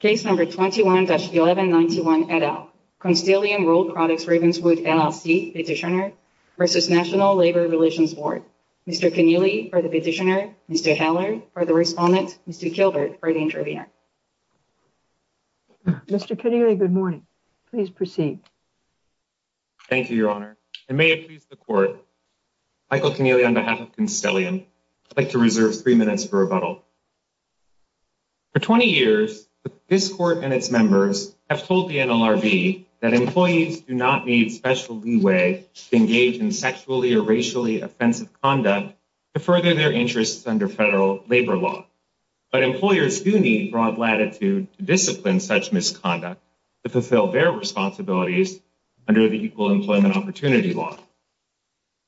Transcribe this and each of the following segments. Case number 21-1191 et al. Constellium Rolled Products Ravenswood, LLC petitioner versus National Labor Relations Board. Mr. Connealy for the petitioner, Mr. Heller for the respondent, Mr. Kilbert for the intervener. Mr. Connealy, good morning. Please proceed. Thank you, Your Honor. And may it please the Court, Michael Connealy on behalf of Constellium, I'd like to reserve three minutes for rebuttal. For 20 years, this Court and its members have told the NLRB that employees do not need special leeway to engage in sexually or racially offensive conduct to further their interests under federal labor law. But employers do need broad latitude to discipline such misconduct to fulfill their responsibilities under the Equal Employment Opportunity Law.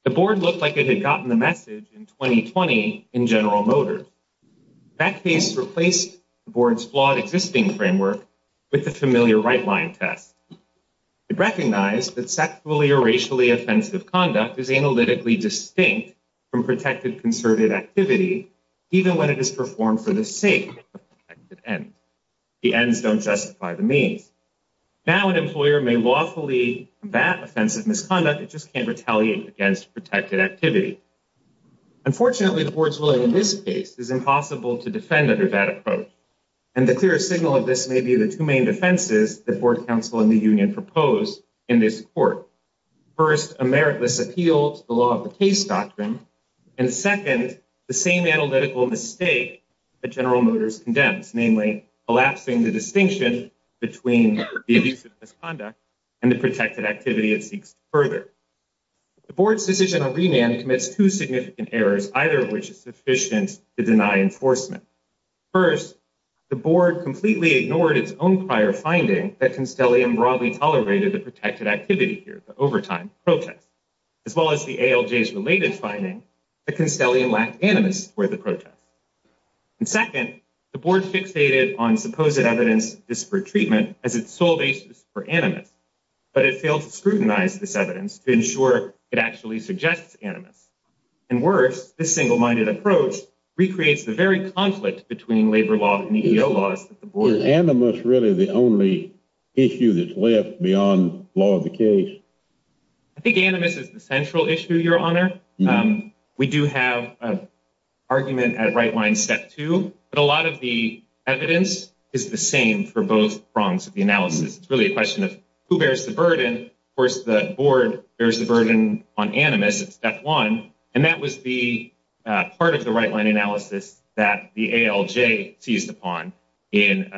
The Board looked like it had gotten the message in 2020 in General Motors. That case replaced the Board's flawed existing framework with the familiar right-line test. It recognized that sexually or racially offensive conduct is analytically distinct from protected concerted activity, even when it is performed for the sake of the protected end. The ends don't justify the means. Now an employer may lawfully combat offensive misconduct, it just can't retaliate against protected activity. Unfortunately, the Board's ruling in this case is impossible to defend under that approach. And the clearest signal of this may be the two main defenses the Board, Council, and the Union propose in this Court. First, a meritless appeal to the law of the case doctrine. And second, the same analytical mistake that General Motors condemns, namely collapsing the distinction between the abuse of misconduct and the protected activity it seeks further. The Board's decision on remand commits two significant errors, either of which is sufficient to deny enforcement. First, the Board completely ignored its own prior finding that Constellium broadly tolerated the protected activity here, the overtime protests. As well as the ALJ's related finding that Constellium lacked animus for the protests. And second, the Board fixated on supposed evidence of disparate treatment as its sole basis for animus, but it failed to scrutinize this evidence to ensure it actually suggests animus. And worse, this single-minded approach recreates the very conflict between labor law and EEO laws that the Board... Is animus really the only issue that's left beyond law of the case? I think animus is the central issue, Your Honor. We do have an argument at right-line step two, but a lot of the evidence is the same for both prongs of the analysis. It's really a question of who bears the burden. Of course, the Board bears the burden on animus at step one, and that was the part of the right-line analysis that the ALJ seized upon in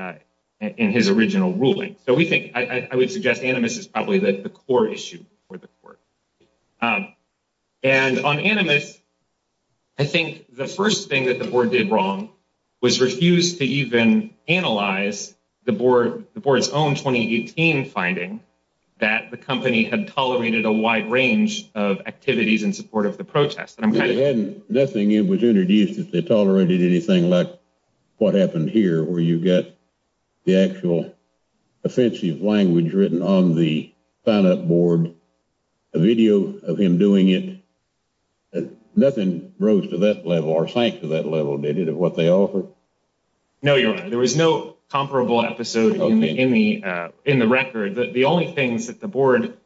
his original ruling. So we think... I would suggest animus is probably the core issue for the Court. And on animus, I think the first thing that the Board did wrong was refuse to even analyze the Board's own 2018 finding that the company had tolerated a wide range of activities in support of the protests. Nothing was introduced that they tolerated anything like what happened here, where you got the actual offensive language written on the sign-up board, a video of him doing it. Nothing rose to that level or sank to that level, did it, of what they offered? No, Your Honor. There was no comparable episode in the record. The only things that the Board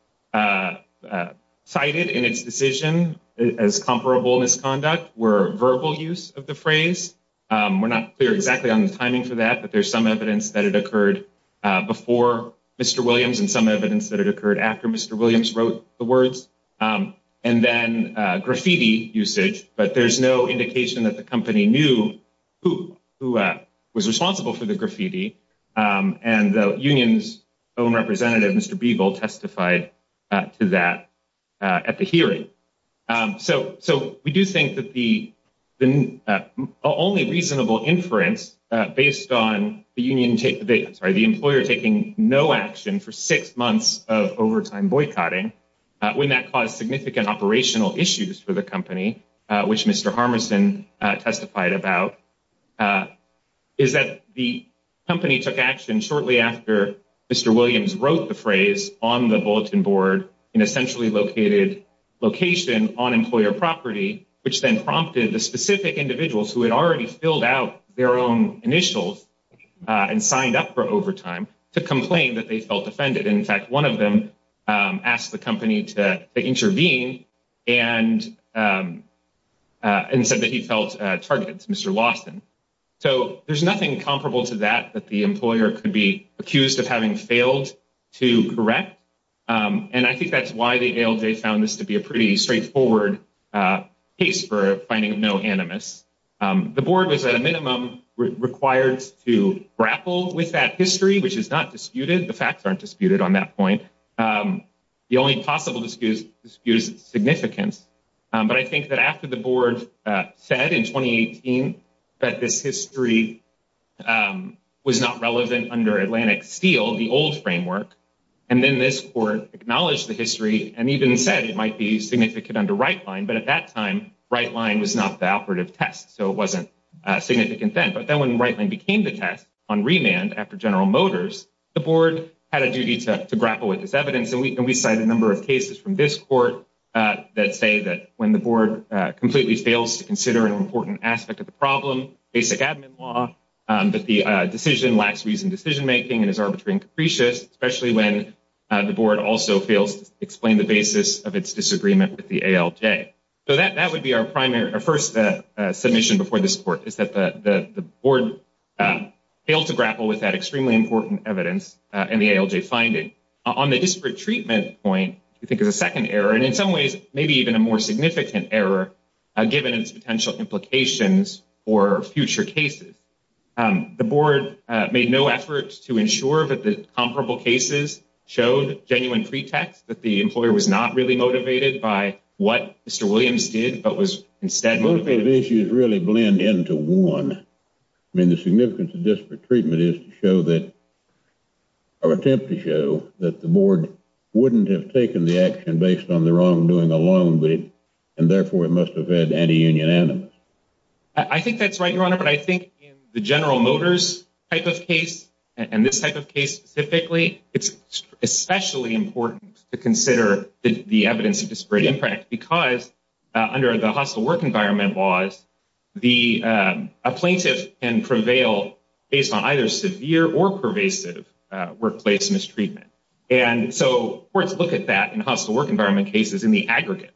cited in its decision as comparable misconduct were verbal use of the phrase. We're not clear on the timing for that, but there's some evidence that it occurred before Mr. Williams and some evidence that it occurred after Mr. Williams wrote the words. And then graffiti usage, but there's no indication that the company knew who was responsible for the graffiti. And the union's own representative, Mr. Beagle, testified to that at the hearing. So we do think that the only reasonable inference based on the employer taking no action for six months of overtime boycotting, when that caused significant operational issues for the company, which Mr. Harmerson testified about, is that the company took action shortly after Mr. Williams wrote the phrase on the bulletin board in a centrally located location on employer property, which then prompted the specific individuals who had already filled out their own initials and signed up for overtime to complain that they felt offended. And in fact, one of them asked the company to intervene and said that he felt targeted to Mr. Lawson. So there's nothing comparable to that, that the employer could be accused of having failed to correct. And I think that's why the ALJ found this to be a pretty straightforward case for finding no animus. The board was at a minimum required to grapple with that history, which is not disputed. The facts aren't disputed on that point. The only possible dispute is its significance. But I was not relevant under Atlantic Steel, the old framework. And then this court acknowledged the history and even said it might be significant under Rightline. But at that time, Rightline was not the operative test. So it wasn't significant then. But then when Rightline became the test on remand after General Motors, the board had a duty to grapple with this evidence. And we cite a number of cases from this court that say that when the board completely fails to consider an decision, that the decision lacks reasoned decision-making and is arbitrary and capricious, especially when the board also fails to explain the basis of its disagreement with the ALJ. So that would be our first submission before this court, is that the board failed to grapple with that extremely important evidence in the ALJ finding. On the disparate treatment point, we think there's a second error, and in some ways, maybe even a more significant error, given its potential implications for future cases. The board made no effort to ensure that the comparable cases showed genuine pretext, that the employer was not really motivated by what Mr. Williams did, but was instead motivated... The issues really blend into one. I mean, the significance of disparate treatment is to show that, or attempt to show, that the board wouldn't have taken the action based on the wrongdoing alone, and therefore, it must have had anti-union animus. I think that's right, Your Honor, but I think in the General Motors type of case, and this type of case specifically, it's especially important to consider the evidence of disparate impact, because under the hostile work environment laws, a plaintiff can prevail based on either severe or pervasive workplace mistreatment. And so, courts look at that in hostile work environment cases in the aggregate.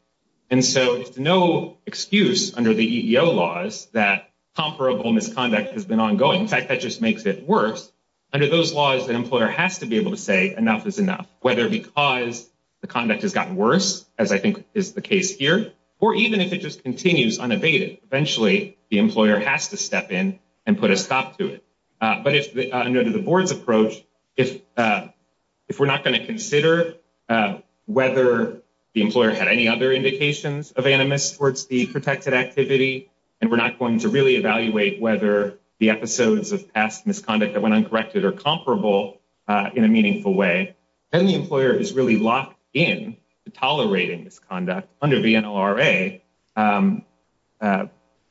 And so, it's no excuse under the EEO laws that comparable misconduct has been ongoing. In fact, that just makes it worse. Under those laws, an employer has to be able to say enough is enough, whether because the conduct has gotten worse, as I think is the case here, or even if it just continues unabated. Eventually, the employer has to step in and put a stop to it. But under the board's approach, if we're not going to consider whether the employer had any other indications of animus towards the protected activity, and we're not going to really evaluate whether the episodes of past misconduct that went uncorrected are comparable in a meaningful way, then the employer is really locked in to tolerating misconduct under the NLRA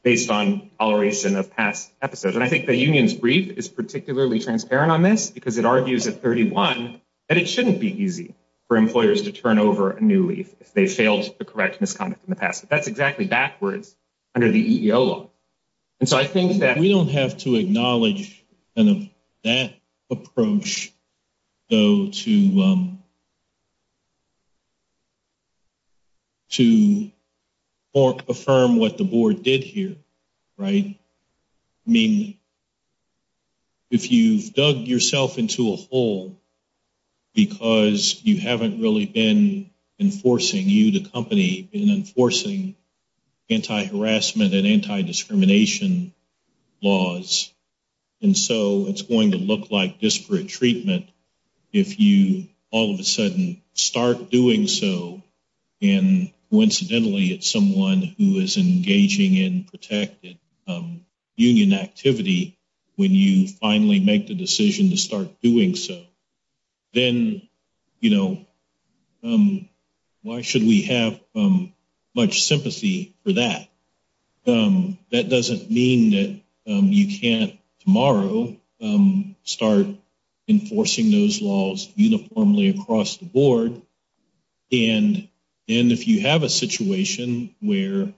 based on toleration of past episodes. And I think the union's brief is particularly transparent on this, because it argues at 31 that it shouldn't be easy for employers to turn over a new leaf if they failed the correct misconduct in the past. But that's exactly backwards under the EEO law. And so, I think that we don't have to acknowledge kind of that approach, though, to affirm what the board did here, right? I mean, if you've dug yourself into a hole because you haven't really been enforcing, you, the company, been enforcing anti-harassment and anti-discrimination laws, and so it's going to look like disparate treatment if you all of a sudden say, start doing so, and coincidentally it's someone who is engaging in protected union activity when you finally make the decision to start doing so, then, you know, why should we have much sympathy for that? That doesn't mean that you can't tomorrow start enforcing those laws uniformly across the board. And if you have a situation where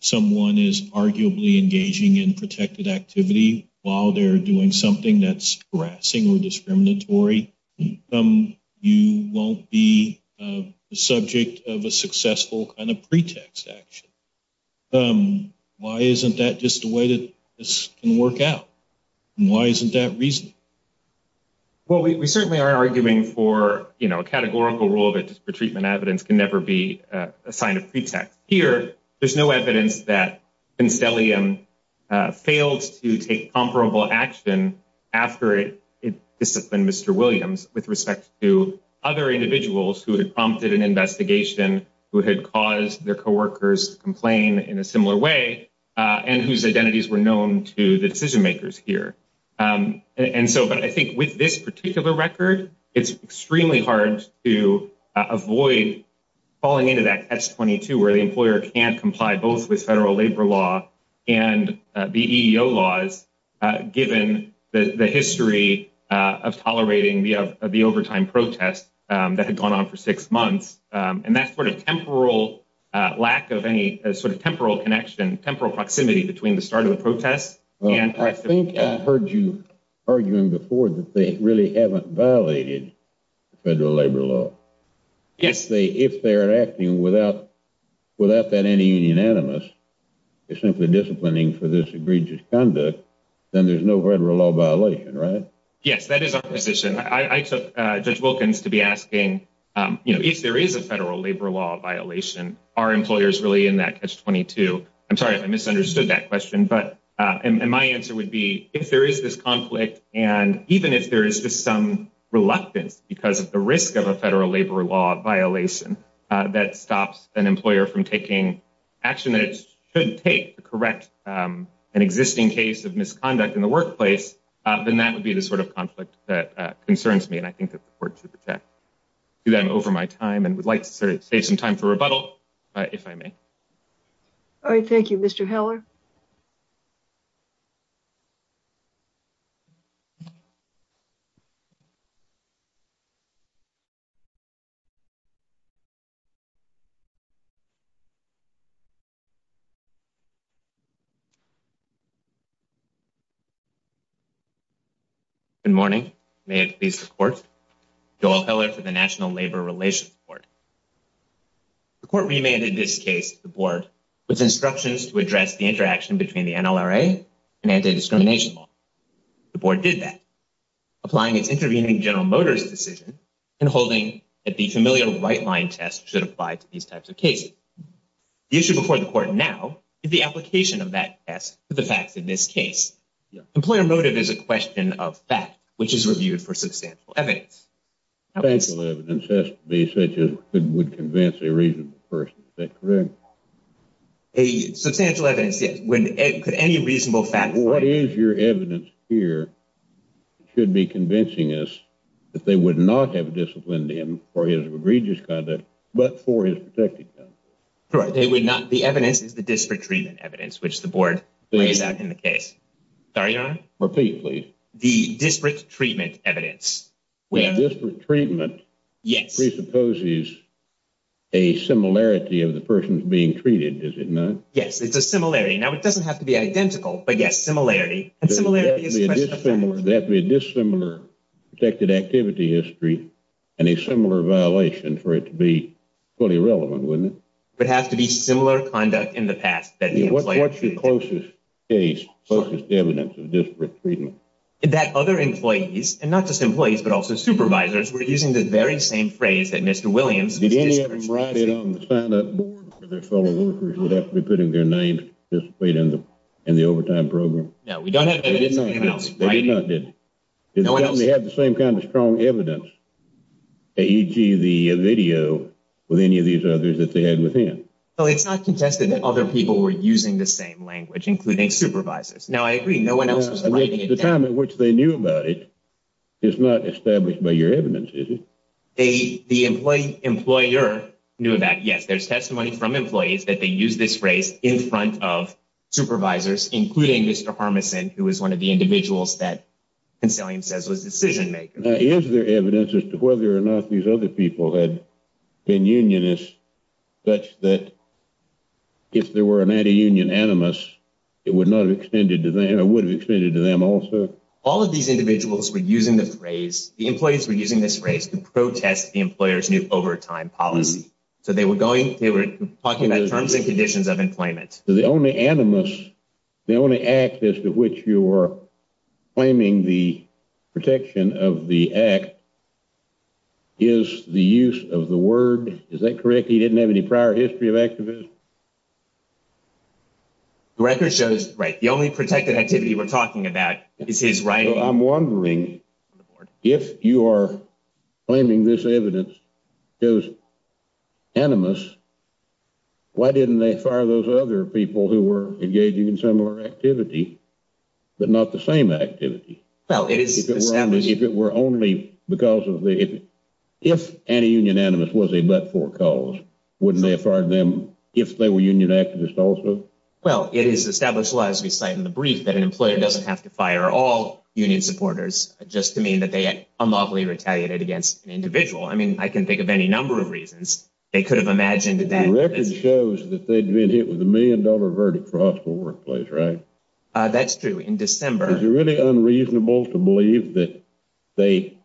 someone is arguably engaging in protected activity while they're doing something that's harassing or discriminatory, you won't be the subject of a successful kind of pretext action. Why isn't that just a way that this can work out? And why isn't that reason? Well, we certainly are arguing for, you know, a categorical rule that disparate treatment evidence can never be a sign of pretext. Here, there's no evidence that Constellium failed to take comparable action after it disciplined Mr. Williams with respect to other individuals who had prompted an investigation, who had caused their co-workers to complain in a similar way, and whose identities were known to the decision-makers here. And so, but I think with this particular record, it's extremely hard to avoid falling into that catch-22 where the employer can't comply both with federal labor law and the EEO laws, given the history of tolerating the overtime protest that had gone on for six months, and that sort of temporal lack of any sort of temporal connection, temporal proximity between the start of the protest and- I think I heard you arguing before that they really haven't violated federal labor law. Yes. If they're acting without that any unanimous, they're simply disciplining for this egregious conduct, then there's no federal law violation, right? Yes, that is our position. I took Judge Wilkins to be asking, you know, if there is a federal labor law violation, are employers really in that catch-22? I'm sorry if I misunderstood that question, but- and my answer would be, if there is this conflict, and even if there is just some reluctance because of the risk of a federal labor law violation that stops an employer from action that it should take to correct an existing case of misconduct in the workplace, then that would be the sort of conflict that concerns me, and I think that the court should do that over my time, and would like to save some time for rebuttal, if I may. All right, thank you. Mr. Heller? Good morning. May it please the court. Joel Heller for the National Labor Relations Board. The court remanded this case to the board with instructions to address the interaction between the NLRA and anti-discrimination law. The board did that, applying its intervening General Motors decision and holding that the familiar right-line test should apply to these types of cases. The issue before the court now is the application of that test to the facts in this case. Employer motive is a question of fact, which is reviewed for substantial evidence. Substantial evidence has to be such as would convince a reasonable person that- A substantial evidence, yes. When any reasonable fact- What is your evidence here should be convincing us that they would not have disciplined him for his egregious conduct, but for his protected conduct? Correct, they would not. The evidence is the disparate treatment evidence, which the board lays out in the case. Sorry, Your Honor? Repeat, please. The disparate treatment evidence. Disparate treatment presupposes a similarity of the person being treated, is it not? Yes, it's a similarity. Now, it doesn't have to be identical, but yes, similarity. And similarity is a question of fact. There has to be a dissimilar protected activity history and a similar violation for it to be fully relevant, wouldn't it? But it has to be similar conduct in the past that the employer- What's your closest case, closest evidence of disparate treatment? That other employees, and not just employees, but also supervisors, were using the very same phrase that Mr. Williams- Did any of them write it on the sign-up board that their fellow workers would have to be putting their names to participate in the overtime program? No, we don't have evidence of anyone else writing it. They definitely had the same kind of strong evidence, e.g. the video with any of these others that they had within. Well, it's not contested that other people were using the same language, including supervisors. Now, I agree, no one else was writing it down. The time at which they knew about it is not established by your evidence, is it? The employer knew that, yes, there's testimony from employees that they used this phrase in front of supervisors, including Mr. Harmeson, who is one of the individuals that Consalium says was a decision-maker. Is there evidence as to whether or not these other people had been unionists, such that if there were an anti-union animus, it would have extended to them also? All of these individuals were using the phrase, the employees were using this phrase to protest the employer's new overtime policy. They were talking about terms and conditions of employment. The only animus, the only act as to which you were claiming the protection of the act is the use of the word, is that correct? He didn't have any prior history of activism? The record shows, right, the only protected activity we're talking about is his writing. I'm wondering, if you are claiming this evidence is animus, why didn't they fire those other people who were engaging in similar activity, but not the same activity? If anti-union animus was a but-for cause, wouldn't they have fired them if they were union activists also? Well, it is established, as we cite in the brief, that an employer doesn't have to fire all union supporters, just to mean that they unlawfully retaliated against an individual. I mean, I can think of any number of reasons they could have imagined. The record shows that they'd been hit with a million dollar verdict for hospital workplace, right? That's true, in December. Is it really unreasonable to believe that they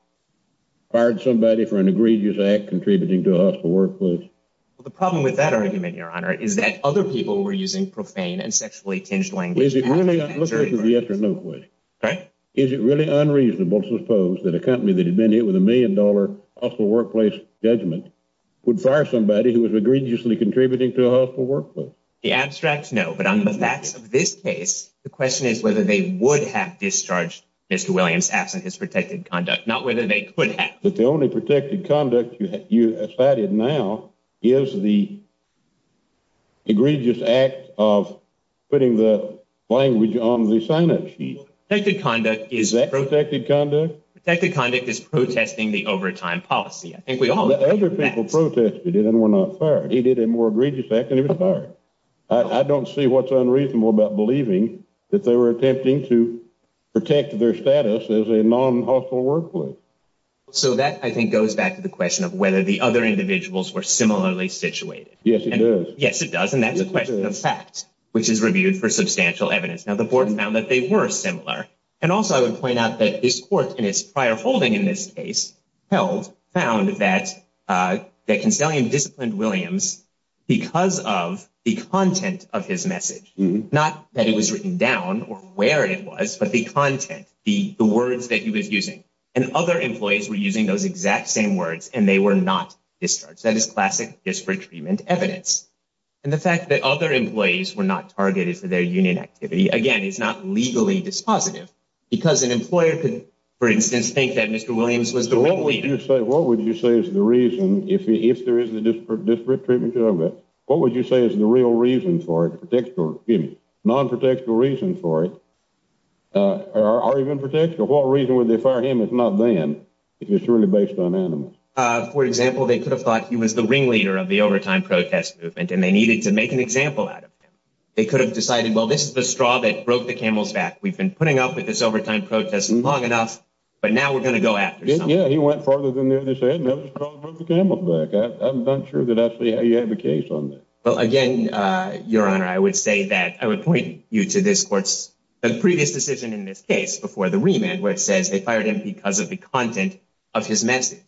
fired somebody for an egregious act contributing to a hospital workplace? Well, the problem with that argument, Your Honor, is that other people were using profane and sexually tinged language. Let's go to the yes or no question. Is it really unreasonable to suppose that a company that had been hit with a million dollar hospital workplace judgment would fire somebody who was egregiously contributing to a hospital workplace? The abstract, no. But on the facts of this case, the question is whether they would have discharged Mr. Williams absent his protected conduct, not whether they could have. But the only protected conduct you cited now is the language on the sign-up sheet. Well, protected conduct is... Is that protected conduct? Protected conduct is protesting the overtime policy. I think we all agree with that. Other people protested it and were not fired. He did a more egregious act and he was fired. I don't see what's unreasonable about believing that they were attempting to protect their status as a non-hospital workplace. So that, I think, goes back to the question of whether the other individuals were similarly situated. Yes, it does. Yes, it does. And that's a question of fact, which is reviewed for substantial evidence. Now, the board found that they were similar. And also, I would point out that this court in its prior holding in this case, held, found that Consalian disciplined Williams because of the content of his message. Not that it was written down or where it was, but the content, the words that he was using. And other employees were using those exact same words and they were not discharged. That is classic disparate treatment evidence. And the fact that other employees were not targeted for their union activity, again, is not legally dispositive because an employer could, for instance, think that Mr. Williams was the ringleader. What would you say is the reason, if there is a disparate treatment, what would you say is the real reason for it? Non-protectable reason for it? Or even protection? What reason would they fire him if not then, if it's really based on animus? For example, they could have thought he was the ringleader of the overtime protest movement and they needed to make an example out of him. They could have decided, well, this is the straw that broke the camel's back. We've been putting up with this overtime protest long enough, but now we're going to go after someone. Yeah, he went farther than they said, and that was the straw that broke the camel's back. I'm not sure that actually he had a case on that. Well, again, Your Honor, I would say that, I would point you to this court's previous decision in this case before the remand, where it says they fired him because of the content of his message.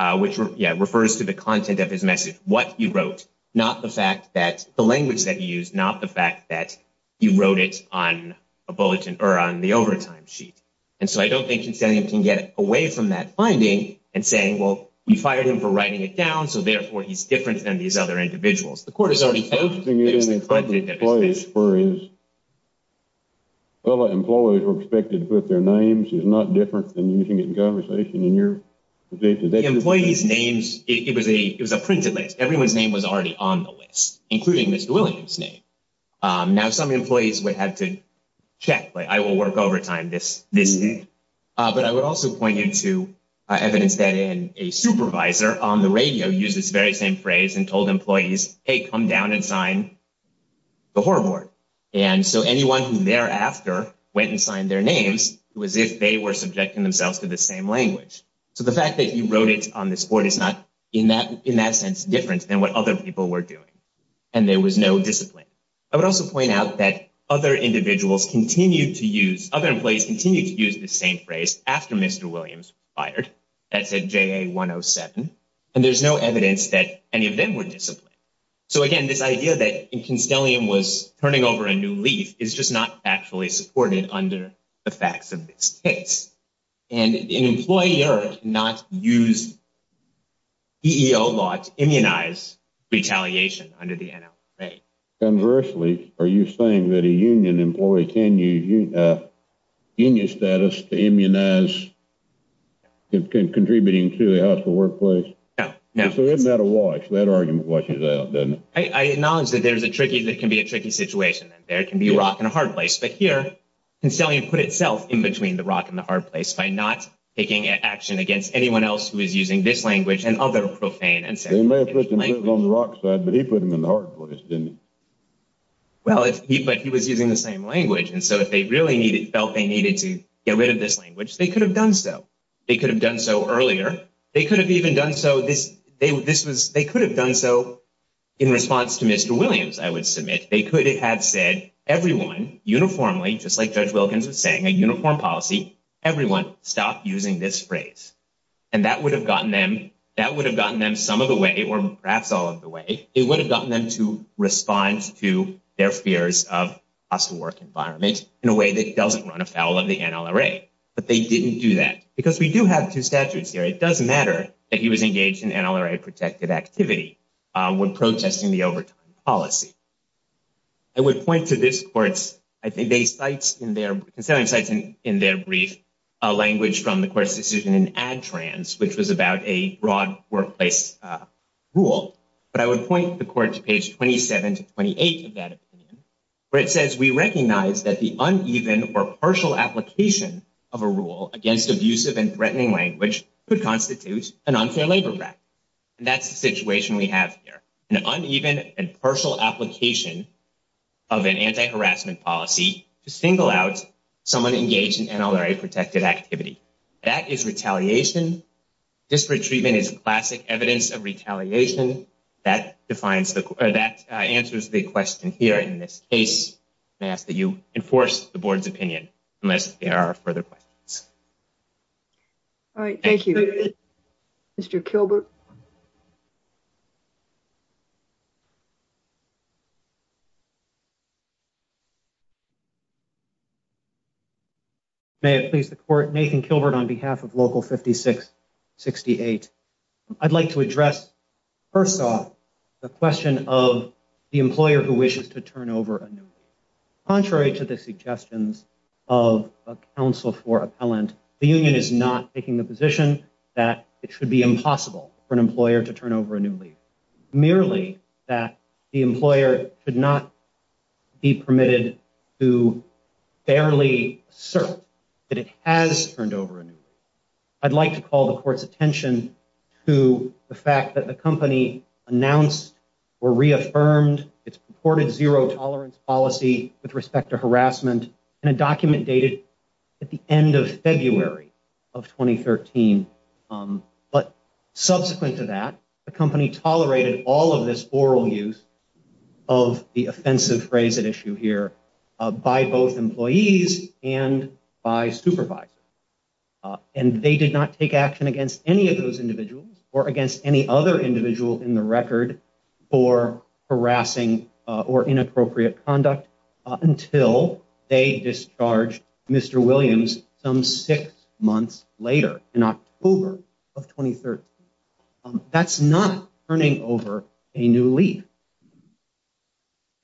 Which, yeah, refers to the content of his message. What he wrote, not the fact that, the language that he used, not the fact that he wrote it on a bulletin or on the overtime sheet. And so I don't think Consalium can get away from that finding and saying, well, we fired him for writing it down, so therefore he's different than these other individuals. The court has already told you that it's the content of his message. Well, the employees were expected to put their names. It's not different than using it in conversation in your case. The employees' names, it was a printed list. Everyone's name was already on the list, including Mr. Williams' name. Now, some employees would have to check, like, I will work overtime this week. But I would also point you to evidence that a supervisor on the radio used this very same phrase and told employees, hey, come down and sign the horror board. And so anyone who thereafter went and signed their names, it was as if they were subjecting themselves to the same language. So the fact that you wrote it on this board is not, in that sense, different than what other people were doing. And there was no discipline. I would also point out that other individuals continue to use, other employees continue to use the same phrase after Mr. Williams was fired. That's at JA 107. And there's no evidence that any of them were disciplined. So again, this idea that Consalium was turning over a new leaf is just not actually supported under the facts of this case. And an employer cannot use EEO laws to immunize retaliation under the NLRA. Conversely, are you saying that a union employee can use union status to immunize contributing to the hospital workplace? No, no. So isn't that a wash? That argument washes out, doesn't it? I acknowledge that there's a tricky, that can be a tricky situation. There can be a rock and a hard place. But here, Consalium put itself in between the rock and the hard place by not taking action against anyone else who is using this language and other profane and segregated language. They may have put him on the rock side, but he put him in the hard place, didn't he? Well, but he was using the same language. And so if they really felt they needed to get rid of this language, they could have done so. They could have done so earlier. They could have even done so, this was, they could have done so in response to Mr. Williams, I would submit. They could have said, everyone uniformly, just like Judge Wilkins was saying, a uniform policy, everyone stop using this phrase. And that would have gotten them, that would have gotten them some of the way, or perhaps all of the way, it would have gotten them to respond to their fears of hospital work environment in a way that doesn't run afoul of the NLRA. But they didn't do that. Because we do have two statutes here. It does matter that he was engaged in NLRA protected activity when protesting the overtime policy. I would point to this court's, I think they cite in their, considering cites in their brief, a language from the court's decision in ADTRANS, which was about a broad workplace rule. But I would point the court to page 27 to 28 of that opinion, where it says, we recognize that the uneven or partial application of a rule against abusive and threatening language could constitute an unfair labor act. And that's the situation we have here. An uneven and partial application of an anti-harassment policy to single out someone engaged in NLRA protected activity. That is retaliation. Disparate treatment is classic evidence of retaliation. That defines the, that answers the question here in this case. May I ask that you enforce the board's opinion unless there are further questions. All right. Thank you. Mr. Kilbert. May it please the court. Nathan Kilbert on behalf of Local 5668. I'd like to address, first off, the question of the employer who wishes to turn over a new employee. Contrary to the suggestions of a counsel for appellant, the union is not taking the position that it should be impossible for an employer to turn over a new leader. Merely that the employer could not be permitted to fairly assert that it has turned over a new leader. I'd like to call the court's attention to the fact that the company announced or reaffirmed its purported zero tolerance policy with respect to harassment in a document dated at the end of February of 2013. But subsequent to that, the company tolerated all of this oral use of the offensive phrase at issue here by both employees and by supervisors. And they did not take action against any of those individuals or against any other individual in the record for harassing or inappropriate conduct until they discharged Mr. Williams some six months later in October of 2013. That's not turning over a new lead.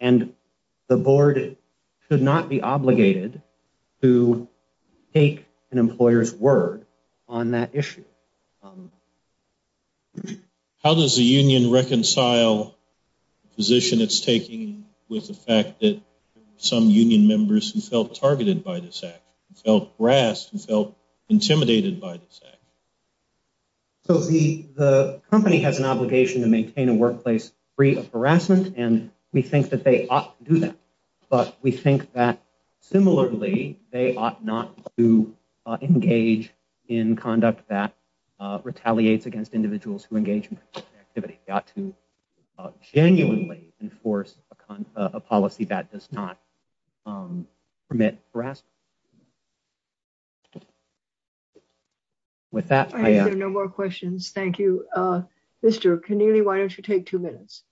And the board could not be obligated to take an employer's word on that issue. How does the union reconcile the position it's taking with the fact that some union members who felt targeted by this act, who felt harassed, who felt intimidated by this act? So the company has an obligation to maintain a workplace free of harassment. And we think that they ought to do that. But we think that similarly, they ought not to engage in conduct that retaliates against individuals who engage in activity. They ought to genuinely enforce a policy that does not permit harassment. With that, I have no more questions. Thank you. Mr. Keneally, why don't you take two minutes?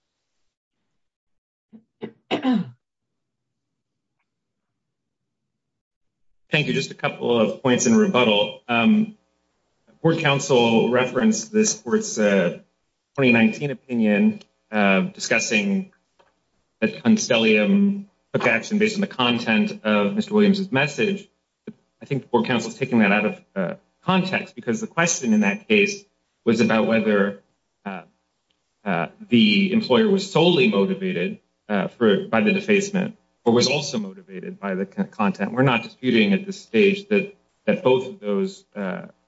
Thank you. Just a couple of points in rebuttal. The board council referenced this court's 2019 opinion discussing that Constellium took action based on the content of Mr. Williams's message. I think the board council is taking that out of context because the question in that case was about whether the employer was solely motivated by the defacement or was also motivated by the content. We're not disputing at this stage that both of those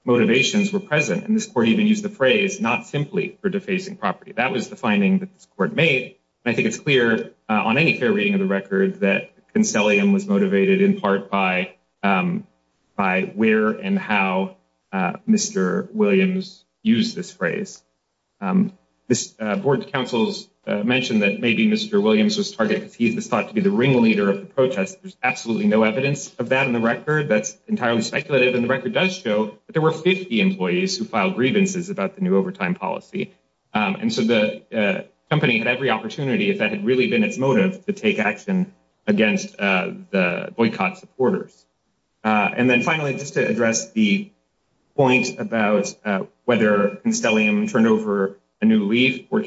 motivations were present. And this court even used the phrase, not simply for defacing property. That was the finding that this court made. And I think it's clear on any fair reading of the record that Constellium was motivated in part by where and how Mr. Williams used this phrase. Board councils mentioned that maybe Mr. Williams was targeted because he was thought to be the ringleader of the protest. There's absolutely no evidence of that in the record. That's entirely speculative. And the record does show that there were 50 employees who filed grievances about the new overtime policy. And so the company had every opportunity, if that had really been its motive, to take action against the boycott supporters. And then finally, just to address the point about whether Constellium turned over a new All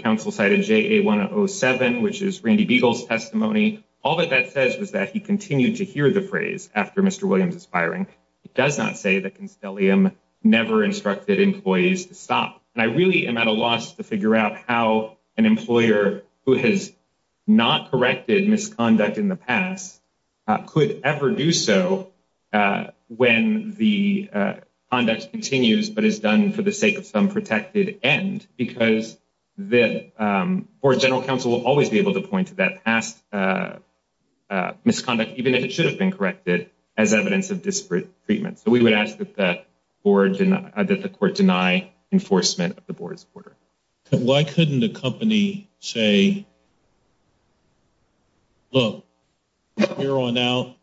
that that says is that he continued to hear the phrase after Mr. Williams is firing. It does not say that Constellium never instructed employees to stop. And I really am at a loss to figure out how an employer who has not corrected misconduct in the past could ever do so when the conduct continues but is done for the sake of some misconduct, even if it should have been corrected as evidence of disparate treatment. So we would ask that the court deny enforcement of the board's order. Why couldn't the company say, look, here on out,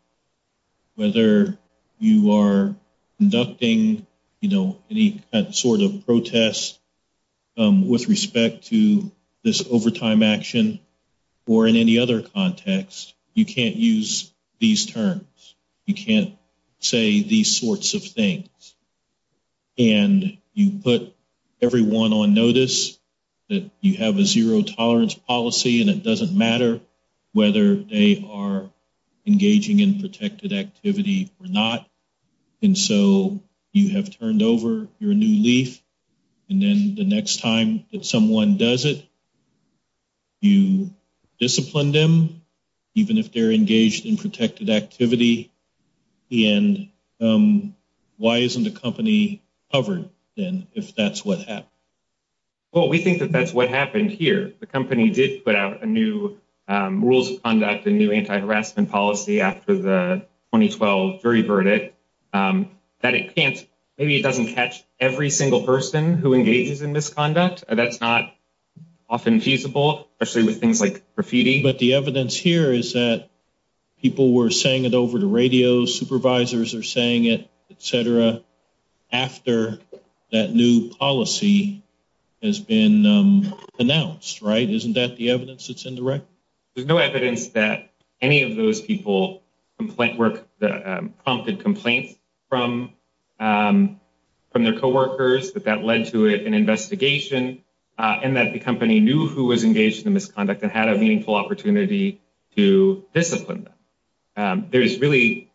whether you are conducting any sort of You can't use these terms. You can't say these sorts of things. And you put everyone on notice that you have a zero tolerance policy, and it doesn't matter whether they are engaging in protected activity or not. And so you have turned over your new leaf. And then the next time that someone does it, you discipline them, even if they're engaged in protected activity. And why isn't the company covered then if that's what happened? Well, we think that that's what happened here. The company did put out a new rules of conduct, a new anti-harassment policy after the 2012 jury heard it, that it can't, maybe it doesn't catch every single person who engages in misconduct. That's not often feasible, especially with things like graffiti. But the evidence here is that people were saying it over the radio, supervisors are saying it, et cetera, after that new policy has been announced, right? Isn't that the evidence that's indirect? There's no evidence that any of those people prompted complaints from their co-workers, that that led to an investigation, and that the company knew who was engaged in the misconduct and had a meaningful opportunity to discipline them. There is really,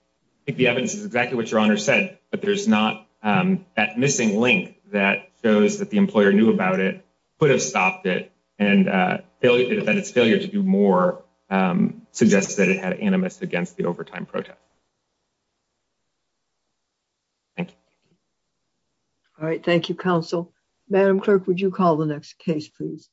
I think the evidence is exactly what Your Honor said, but there's not that missing link that shows that the employer knew about it, could have stopped it, and that its failure to do more suggests that it had animus against the overtime protest. Thank you. All right, thank you, counsel. Madam Clerk, would you call the next case, please?